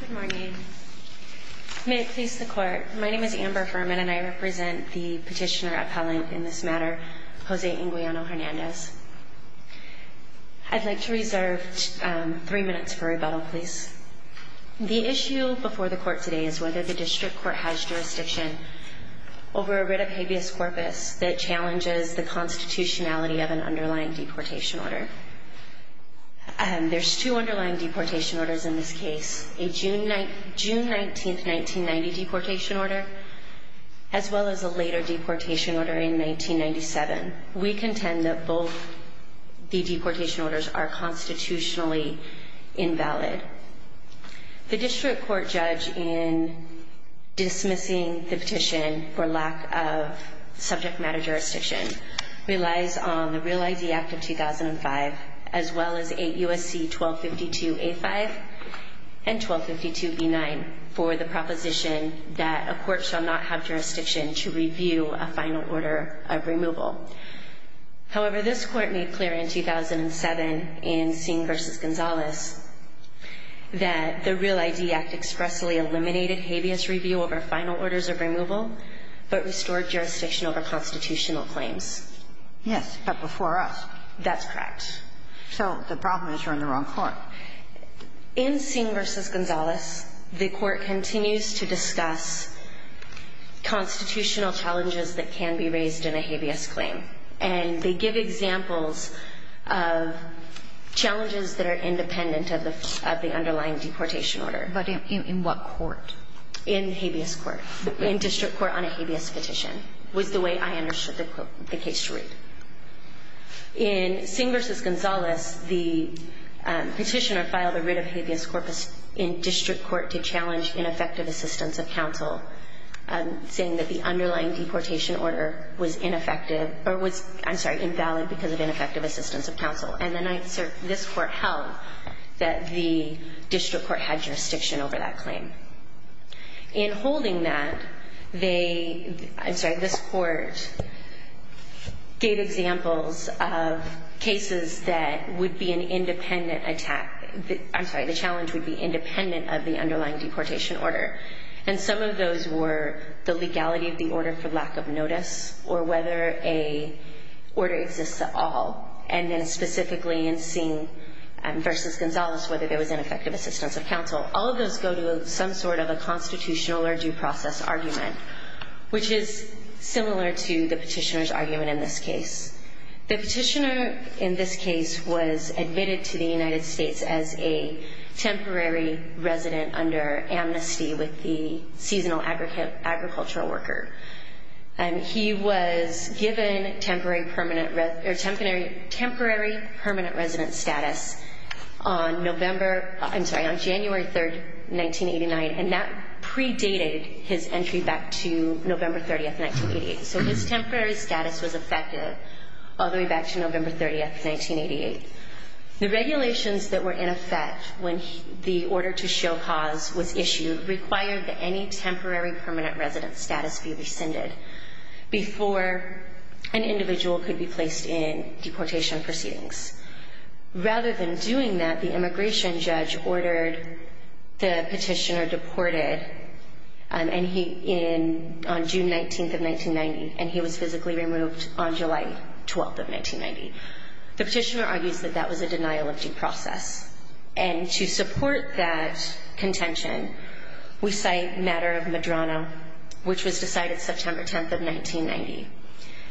Good morning. May it please the court. My name is Amber Furman and I represent the petitioner appellant in this matter, Jose Anguiano-Hernandez. I'd like to reserve three minutes for rebuttal, please. The issue before the court today is whether the district court has jurisdiction over a writ of habeas corpus that challenges the constitutionality of an underlying deportation order. There's two underlying deportation orders in this case, a June 19, 1990 deportation order as well as a later deportation order in 1997. We contend that both the deportation orders are constitutionally invalid. The district court judge in dismissing the petition for lack of jurisdiction in 2005 as well as 8 U.S.C. 1252A5 and 1252B9 for the proposition that a court shall not have jurisdiction to review a final order of removal. However, this court made clear in 2007 in Singh v. Gonzales that the REAL-ID Act expressly eliminated habeas review over final orders of removal but restored jurisdiction over constitutional claims. Yes, but before us. That's correct. So the problem is you're in the wrong court. In Singh v. Gonzales, the court continues to discuss constitutional challenges that can be raised in a habeas claim, and they give examples of challenges that are independent of the underlying deportation order. But in what court? In habeas court. In district court on a habeas petition was the way I understood the case to read. In Singh v. Gonzales, the petitioner filed a writ of habeas corpus in district court to challenge ineffective assistance of counsel, saying that the underlying deportation order was ineffective or was, I'm sorry, invalid because of ineffective assistance of counsel. And then I assert this court held that the district court had jurisdiction over that claim. In holding that, they, I'm sorry, this court gave examples of cases that would be an independent attack. I'm sorry, the challenge would be independent of the underlying deportation order. And some of those were the legality of the order for lack of notice or whether a order exists at specifically in Singh v. Gonzales whether there was ineffective assistance of counsel. All of those go to some sort of a constitutional or due process argument, which is similar to the petitioner's argument in this case. The petitioner in this case was admitted to the United States as a temporary resident under amnesty with the seasonal agricultural worker. And he was given temporary permanent resident status on November, I'm sorry, on January 3rd, 1989. And that predated his entry back to November 30th, 1988. So his temporary status was effective all the way back to November 30th, 1988. The regulations that were in effect when the order to show cause was issued required that any temporary permanent resident status be rescinded before an individual could be placed in deportation proceedings. Rather than doing that, the immigration judge ordered the petitioner deported on June 19th of 1990, and he was physically removed on July 12th of 1990. The petitioner argues that that was a denial of due process. And to support that contention, we cite matter of Medrano, which was decided September 10th of 1990.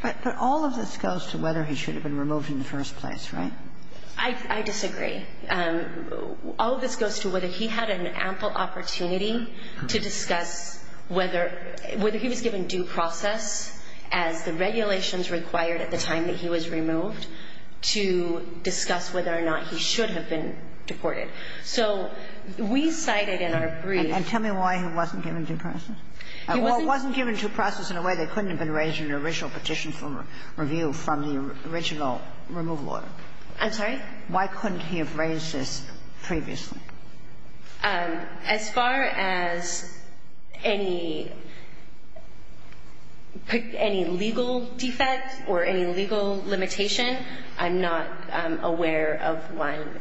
But all of this goes to whether he should have been removed in the first place, right? I disagree. All of this goes to whether he had an ample opportunity to discuss whether he was given due process as the regulations required at the time that he was removed to discuss whether or not he should have been deported. So we cited in our brief. And tell me why he wasn't given due process. He wasn't given due process in a way that couldn't have been raised in the original petition for review from the original removal order. I'm sorry? Why couldn't he have raised previously? As far as any legal defects or any legal limitation, I'm not aware of one.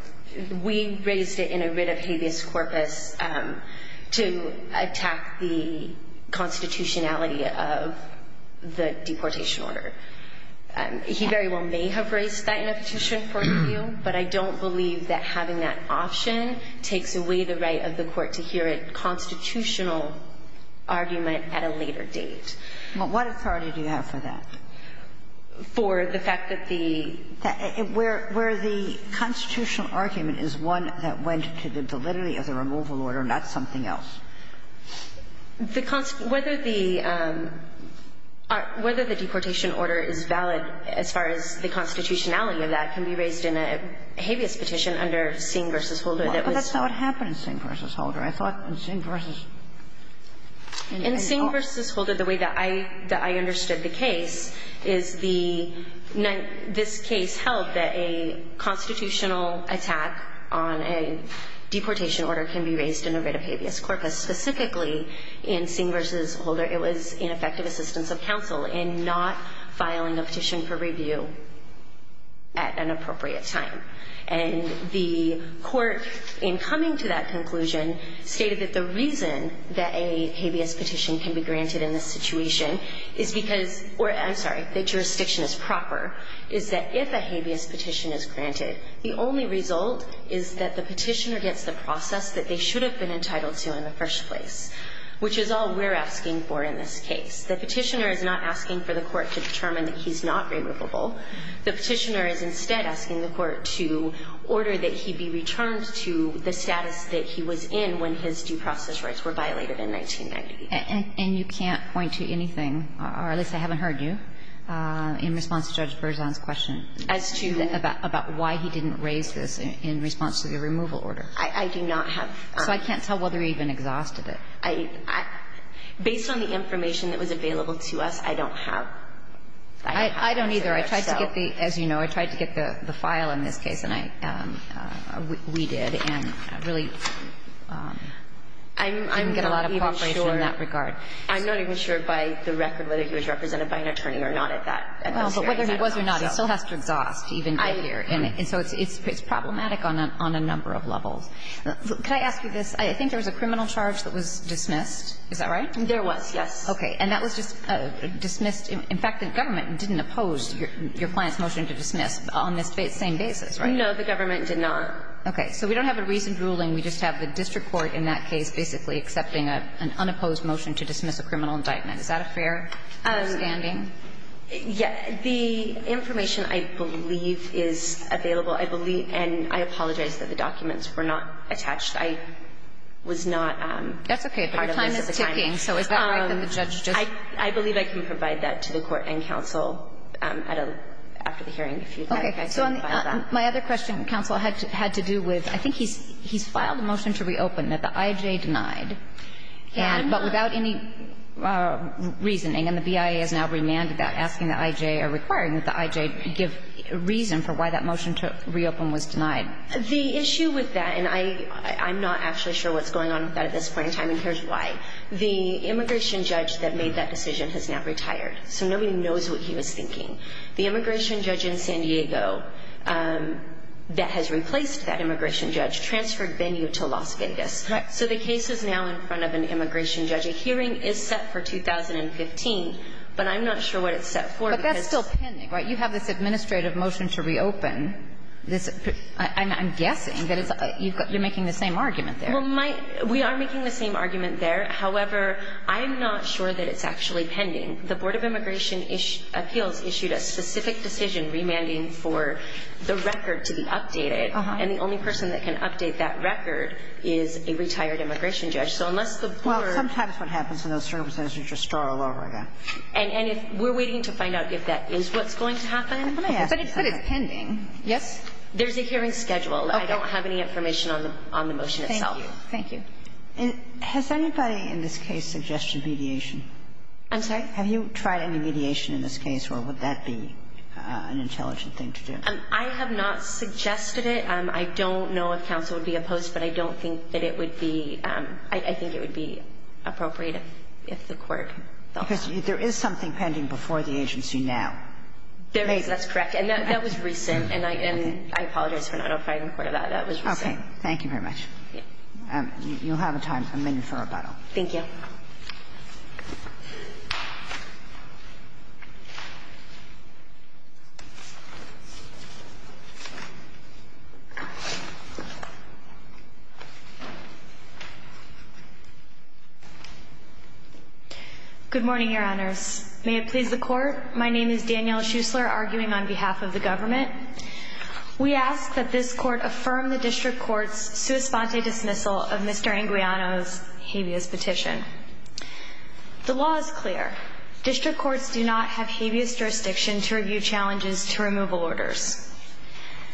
We raised it in a writ of habeas corpus to attack the constitutionality of the deportation order. He very well may have raised that in a petition for review, but I don't believe that having that option takes away the right of the court to hear a constitutional argument at a later date. But what authority do you have for that? For the fact that the – where the constitutional argument is one that went to the validity of the removal order, not something else. The – whether the – whether the deportation order is valid as far as the constitutionality of that can be raised in a habeas petition under Singh v. Holder that was – But that's not what happened in Singh v. Holder. I thought in Singh v. – In Singh v. Holder, the way that I – that I understood the case is the – this case held that a constitutional attack on a deportation order can be raised in a writ of habeas corpus. Specifically in Singh v. Holder, it was ineffective assistance of counsel in not filing a petition for review at an appropriate time. And the court, in coming to that conclusion, stated that the reason that a habeas petition can be granted in this situation is because – or, I'm sorry, the jurisdiction is proper – is that if a habeas petition is granted, the only result is that the petitioner gets the process that they should have been entitled to in the first place, which is all we're asking for in this case. The petitioner is not asking for the court to determine that he's not removable. The petitioner is instead asking the court to order that he be returned to the status that he was in when his due process rights were violated in 1990. And you can't point to anything – or at least I haven't heard you – in response to Judge Berzon's question. As to? About why he didn't raise this in response to the removal I do not have. So I can't tell whether he even exhausted it. Based on the information that was available to us, I don't have. I don't either. I tried to get the – as you know, I tried to get the file in this case, and I – we did, and I really didn't get a lot of cooperation in that regard. I'm not even sure by the record whether he was represented by an attorney or not at that time. But whether he was or not, he still has to exhaust even here. And so it's problematic on a number of levels. Could I ask you this? I think there was a criminal charge that was dismissed, is that right? There was, yes. Okay. And that was just dismissed – in fact, the government didn't oppose your client's motion to dismiss on this same basis, right? No, the government did not. Okay. So we don't have a reasoned ruling. We just have the district court in that case basically accepting an unopposed motion to dismiss a criminal indictment. Is that a fair standing? Yeah. The information I believe is available. I believe – and I apologize that the documents were not attached. I was not part of this at the time. That's okay. Your time is ticking. So is that right that the judge just – I believe I can provide that to the court and counsel at a – after the hearing if you'd like. I can provide that. My other question, counsel, had to do with – I think he's filed a motion to reopen that the I.J. denied, but without any reasoning. And the BIA has now remanded that, asking the I.J. or requiring that the I.J. give reason for why that motion to reopen was denied. The issue with that – and I'm not actually sure what's going on with that at this point in time, and here's why. The immigration judge that made that decision has now retired, so nobody knows what he was thinking. The immigration judge in San Diego that has replaced that immigration judge transferred Bennu to Las Vegas. Correct. So the case is now in front of an immigration judge. A hearing is set for 2015, but I'm not sure what it's set for because – But that's still pending, right? You have this administrative motion to reopen. This – I'm guessing that it's – you're making the same argument there. Well, my – we are making the same argument there. However, I'm not sure that it's actually pending. The Board of Immigration Appeals issued a specific decision remanding for the record to be updated, and the only person that can update that record is a retired immigration judge. So unless the Board – Well, sometimes what happens in those circumstances is you just start all over again. And if – we're waiting to find out if that is what's going to happen. Let me ask you – But it said it's pending. Yes? There's a hearing scheduled. I don't have any information on the motion itself. Thank you. Has anybody in this case suggested mediation? I'm sorry? Have you tried any mediation in this case, or would that be an intelligent thing to do? I have not suggested it. I don't know if counsel would be opposed, but I don't think that it would be – I think it would be appropriate if the Court thought that. Because there is something pending before the agency now. There is. That's correct. And that was recent, and I apologize for not applying in court on that. That was recent. Okay. Thank you very much. Yes. You'll have a time, a minute for rebuttal. Thank you. Thank you. Good morning, Your Honors. May it please the Court, my name is Danielle Schuessler, arguing on behalf of the government. We ask that this Court affirm the District Court's sua sponte dismissal of Mr. Anguiano's claims. The law is clear. District courts do not have habeas jurisdiction to review challenges to removal orders.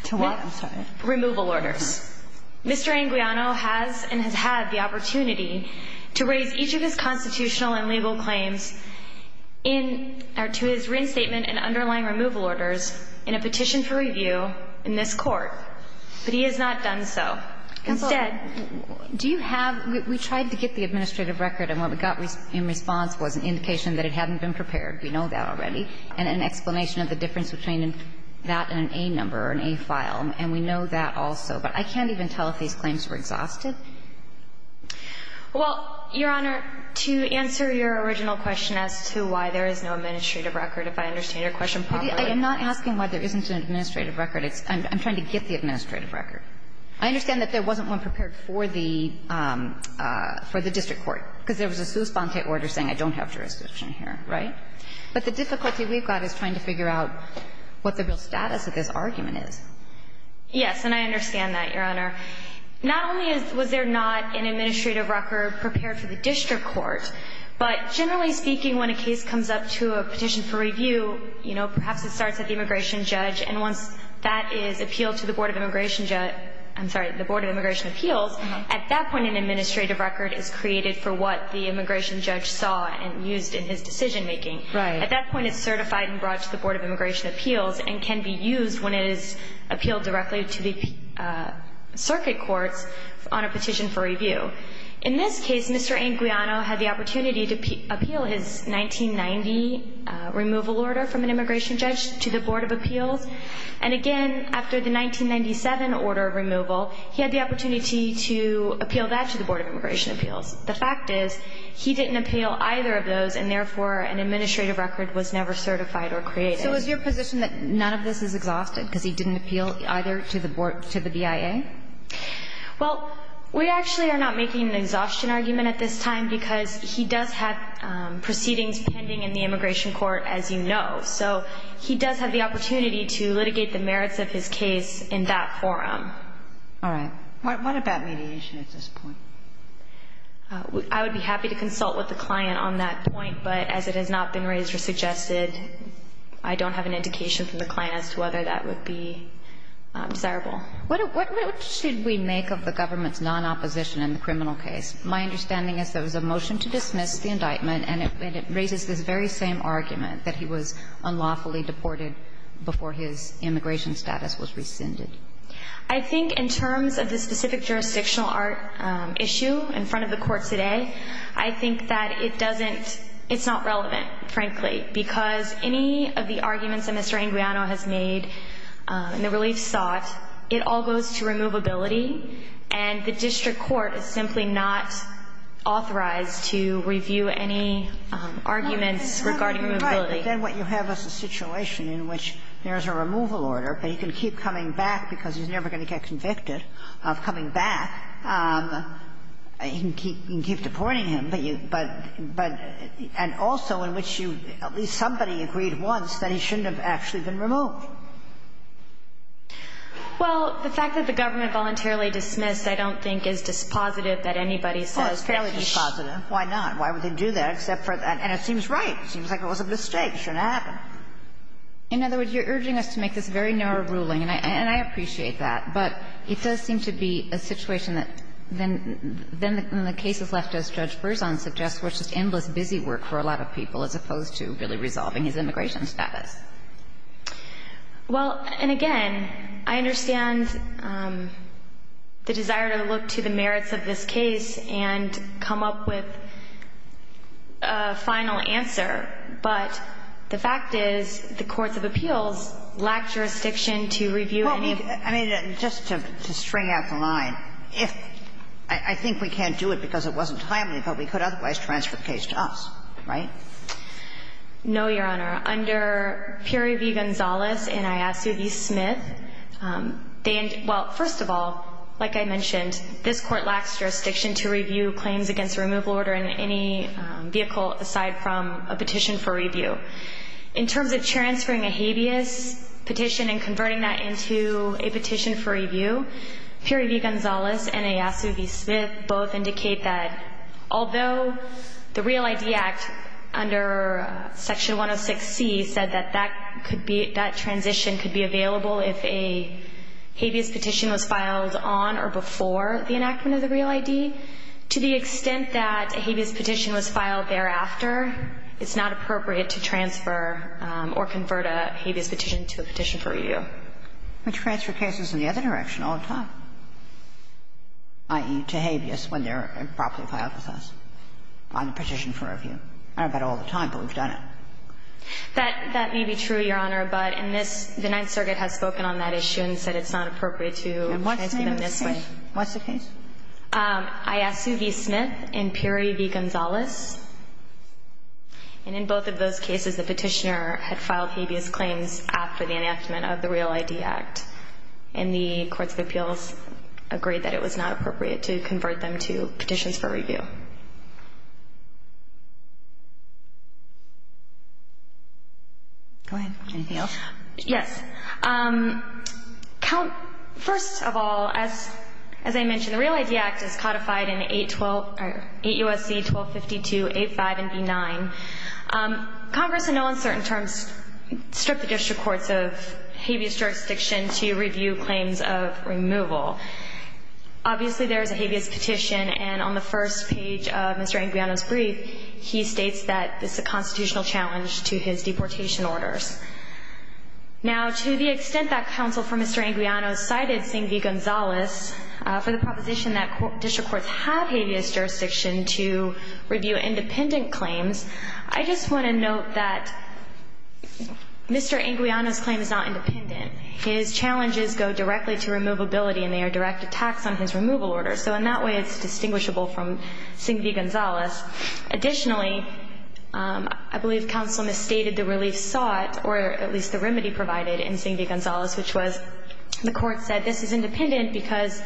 To what? I'm sorry. Removal orders. Mr. Anguiano has and has had the opportunity to raise each of his constitutional and legal claims in – or to his reinstatement and underlying removal orders in a petition for review in this Court. But he has not done so. Counsel, do you have – we tried to get the administrative record, and what we got in response was an indication that it hadn't been prepared. We know that already. And an explanation of the difference between that and an A number or an A file. And we know that also. But I can't even tell if these claims were exhausted. Well, Your Honor, to answer your original question as to why there is no administrative record, if I understand your question properly – I am not asking why there isn't an administrative record. It's – I'm trying to get the administrative record. I understand that there wasn't one prepared for the – for the district court, because there was a sous-spante order saying I don't have jurisdiction here, right? But the difficulty we've got is trying to figure out what the real status of this argument is. Yes, and I understand that, Your Honor. Not only is – was there not an administrative record prepared for the district court, but generally speaking, when a case comes up to a petition for review, you know, perhaps it starts at the immigration judge, and once that is appealed to the Board of Immigration – I'm sorry, the for what the immigration judge saw and used in his decision making. Right. At that point, it's certified and brought to the Board of Immigration Appeals and can be used when it is appealed directly to the circuit courts on a petition for review. In this case, Mr. Anguiano had the opportunity to appeal his 1990 removal order from an immigration judge to the Board of Appeals. And again, after the 1997 order of removal, he had the opportunity to appeal that to the Board of Immigration Appeals. The fact is, he didn't appeal either of those, and therefore, an administrative record was never certified or created. So is your position that none of this is exhausted because he didn't appeal either to the Board – to the BIA? Well, we actually are not making an exhaustion argument at this time because he does have proceedings pending in the immigration court, as you know. So he does have the opportunity to litigate the merits of his case in that forum. All right. What about mediation at this point? I would be happy to consult with the client on that point, but as it has not been raised or suggested, I don't have an indication from the client as to whether that would be desirable. What should we make of the government's non-opposition in the criminal case? My understanding is there was a motion to dismiss the indictment, and it raises this very same argument, that he was unlawfully deported before his immigration status was rescinded. I think in terms of the specific jurisdictional issue in front of the Court today, I think that it doesn't – it's not relevant, frankly, because any of the arguments that Mr. Anguiano has made in the relief sought, it all goes to removability, and the district court is simply not authorized to review any arguments regarding removability. Right. But then what you have is a situation in which there is a removal order, but he can keep coming back because he's never going to get convicted of coming back. He can keep – you can keep deporting him, but you – but – but – and also in which you – at least somebody agreed once that he shouldn't have actually been removed. Well, the fact that the government voluntarily dismissed, I don't think, is dispositive that anybody says that he should – Well, it's fairly dispositive. Why not? Why would they do that except for – and it seems right. It seems like it was a mistake. It shouldn't happen. In other words, you're urging us to make this very narrow ruling, and I – and I appreciate that, but it does seem to be a situation that then – then the cases left, as Judge Berzon suggests, were just endless busy work for a lot of people as opposed to really resolving his immigration status. Well, and again, I understand the desire to look to the merits of this case and come up with a final answer, but the fact is the courts of appeals lack jurisdiction to review any of – Well, I mean, just to – to string out the line, if – I think we can't do it because it wasn't timely, but we could otherwise transfer the case to us, right? No, Your Honor. Under Puri v. Gonzalez and Iasu v. Smith, they – well, first of all, like I mentioned, this court lacks jurisdiction to review claims against a removal order in any vehicle aside from a petition for review. In terms of transferring a habeas petition and converting that into a petition for review, Puri v. Gonzalez and Iasu v. Smith both indicate that although the Real ID Act under Section 106C said that that could be – that transition could be available if a habeas petition was filed on or before the enactment of the Real ID, to the extent that a habeas petition was filed thereafter, it's not appropriate to transfer or convert a habeas petition to a petition for review. But you transfer cases in the other direction all the time, i.e., to habeas when they're properly filed with us on the petition for review. I don't do that all the time, but we've done it. That may be true, Your Honor, but in this – the Ninth Circuit has spoken on that issue and said it's not appropriate to transfer them this way. And what's the name of the case? What's the case? Iasu v. Smith and Puri v. Gonzalez. And in both of those cases, the petitioner had filed habeas claims after the enactment of the Real ID Act, and the courts of appeals agreed that it was not appropriate to convert them to petitions for review. Go ahead, Danielle. Yes. First of all, as I mentioned, the Real ID Act is codified in 8 U.S.C. 1252, 8.5, and 8.9. Congress, in no uncertain terms, stripped the district courts of habeas jurisdiction to review claims of removal. Obviously, there's a habeas petition, and on the first page of to his deportation orders. Now, to the extent that counsel for Mr. Anguiano cited Singh v. Gonzalez for the proposition that district courts have habeas jurisdiction to review independent claims, I just want to note that Mr. Anguiano's claim is not independent. His challenges go directly to removability, and they are direct attacks on his removal orders. So in that way, it's distinguishable from Singh v. Gonzalez. Additionally, I believe counsel misstated the relief sought, or at least the remedy provided in Singh v. Gonzalez, which was the court said this is independent because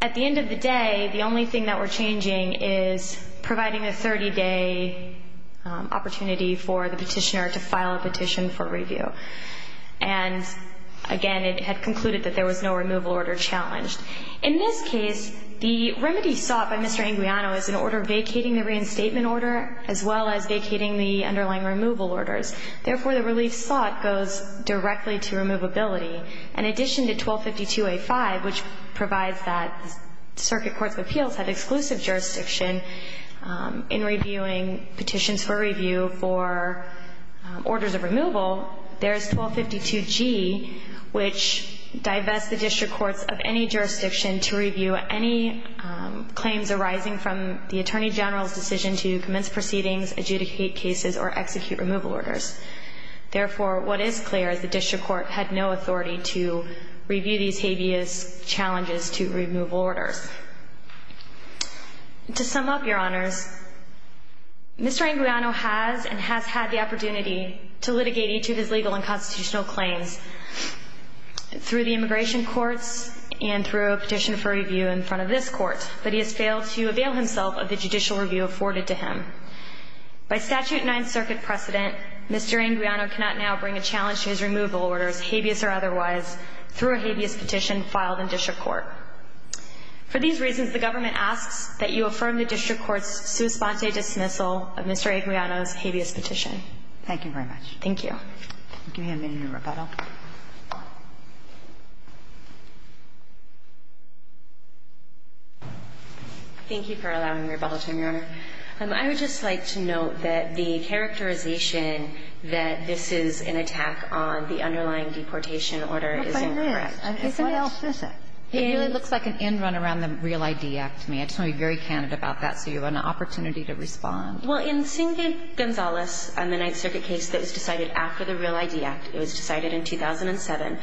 at the end of the day, the only thing that we're changing is providing a 30-day opportunity for the petitioner to file a petition for review. And again, it had concluded that there was no vacating the reinstatement order as well as vacating the underlying removal orders. Therefore, the relief sought goes directly to removability. In addition to 1252A5, which provides that circuit courts of appeals have exclusive jurisdiction in reviewing petitions for review for orders of removal, there's 1252G, which divests the attorney general's decision to commence proceedings, adjudicate cases, or execute removal orders. Therefore, what is clear is the district court had no authority to review these habeas challenges to removal orders. To sum up, Your Honors, Mr. Anguiano has and has had the opportunity to litigate each of his legal and constitutional claims through the immigration courts and through a petition for judicial review afforded to him. By statute 9th Circuit precedent, Mr. Anguiano cannot now bring a challenge to his removal orders, habeas or otherwise, through a habeas petition filed in district court. For these reasons, the government asks that you affirm the district court's sua sponte dismissal of Mr. Anguiano's habeas petition. Thank you very much. Thank you. I'll give you a minute in rebuttal. Thank you for allowing me to rebuttal, Your Honor. I would just like to note that the characterization that this is an attack on the underlying deportation order isn't correct. What by that? What else is it? It really looks like an end run around the Real ID Act to me. I just want to be very candid about that so you have an opportunity to respond. Well, in Singh v. Gonzalez on the 9th Circuit case that was decided after the Real ID Act, it was decided in 2007,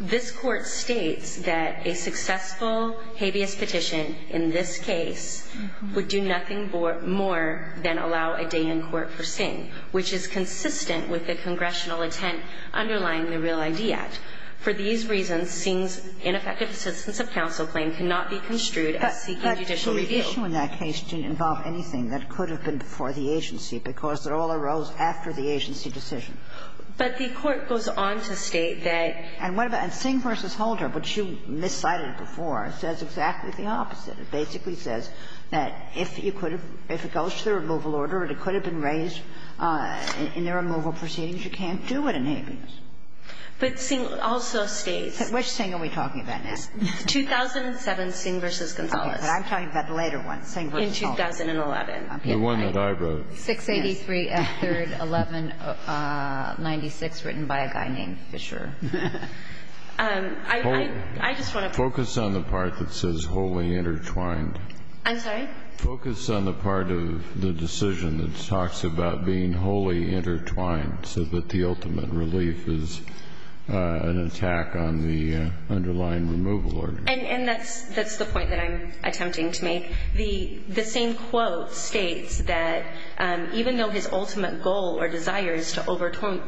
this Court states that a successful habeas petition in this case would do nothing more than allow a day in court for Singh, which is consistent with the congressional intent underlying the Real ID Act. For these reasons, Singh's ineffective assistance of counsel claim cannot be construed as seeking judicial review. The petition in that case didn't involve anything that could have been for the agency because it all arose after the agency decision. But the Court goes on to state that the court goes on to state that And what about Singh v. Holder, which you miscited before, says exactly the opposite. It basically says that if you could have – if it goes to the removal order and it could have been raised in the removal proceedings, you can't do it in habeas. But Singh also states Which Singh are we talking about now? 2007, Singh v. Gonzalez. But I'm talking about the later one, Singh v. Gonzalez. In 2011. The one that I wrote. 683, 3rd, 1196, written by a guy named Fisher. I just want to Focus on the part that says wholly intertwined. I'm sorry? Focus on the part of the decision that talks about being wholly intertwined so that the ultimate relief is an attack on the underlying removal order. And that's the point that I'm attempting to make. The same quote states that even though his ultimate goal or desire is to overturn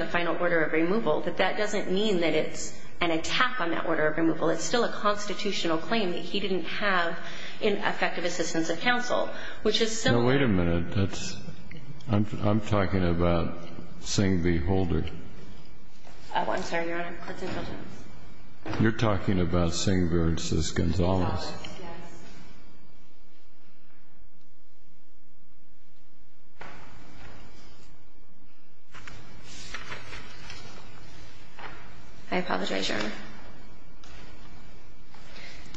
the final order of removal, that that doesn't mean that it's an attack on that order of removal. It's still a constitutional claim that he didn't have in effective assistance of counsel, which is similar No, wait a minute. That's – I'm talking about Singh v. Holder. I'm sorry, Your Honor. You're talking about Singh v. Gonzalez. I apologize, Your Honor.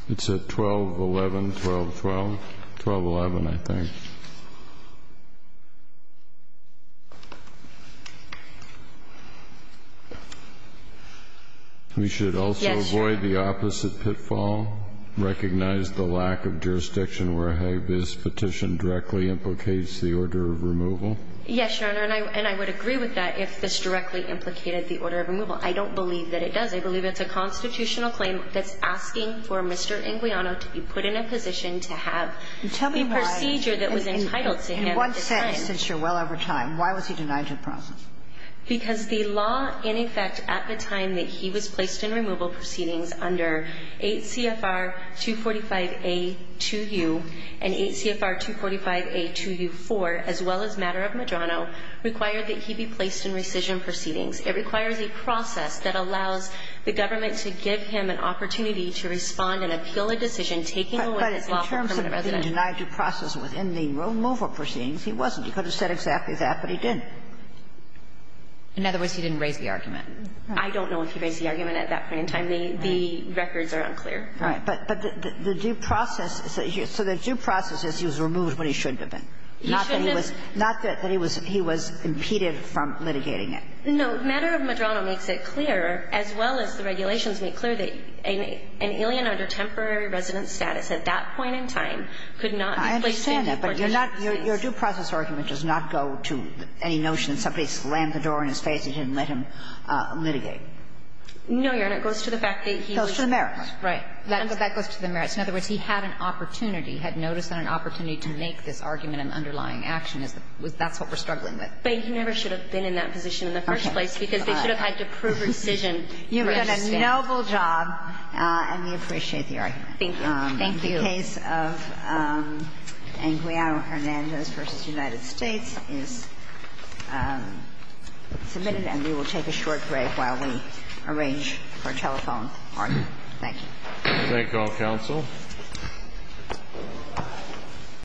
It's at 12-11, 12-12, 12-11 I think. We should also avoid the opposite pitfall, recognize the lack of jurisdiction where this petition directly implicates the order of removal. Yes, Your Honor. And I would agree with that if this directly implicated the order of removal. I don't believe that it does. I believe it's a constitutional claim that's asking for Mr. Inguiano to be put in a position to have the procedure that was entitled to him at the time. In one sentence, since you're well over time, why was he denied to the process? Because the law, in effect, at the time that he was placed in removal proceedings under 8 CFR 245A-2U and 8 CFR 245A-2U-4, as well as matter of Medrano, required that he be placed in rescission proceedings. It requires a process that allows the government to give him an opportunity to respond and appeal a decision taking away his lawful permanent residence. But in terms of being denied to process within the removal proceedings, he wasn't. He could have said exactly that, but he didn't. In other words, he didn't raise the argument. I don't know if he raised the argument at that point in time. The records are unclear. All right. But the due process is that he was removed when he should have been. He should have been. Not that he was impeded from litigating it. No. Matter of Medrano makes it clear, as well as the regulations make clear, that an alien under temporary residence status at that point in time could not be placed in the position of a permanent residence. And so there's a notion that somebody slammed the door in his face and didn't let him litigate. No, Your Honor. It goes to the fact that he was. Goes to the merits. Right. That goes to the merits. In other words, he had an opportunity, had noticed an opportunity to make this argument in underlying action. That's what we're struggling with. But he never should have been in that position in the first place because they should have had to prove rescission. You've done a noble job, and we appreciate the argument. Thank you. Thank you. The case of Anguiano-Hernandez v. United States is submitted. And we will take a short break while we arrange for a telephone argument. Thank you. Thank you all. Counsel.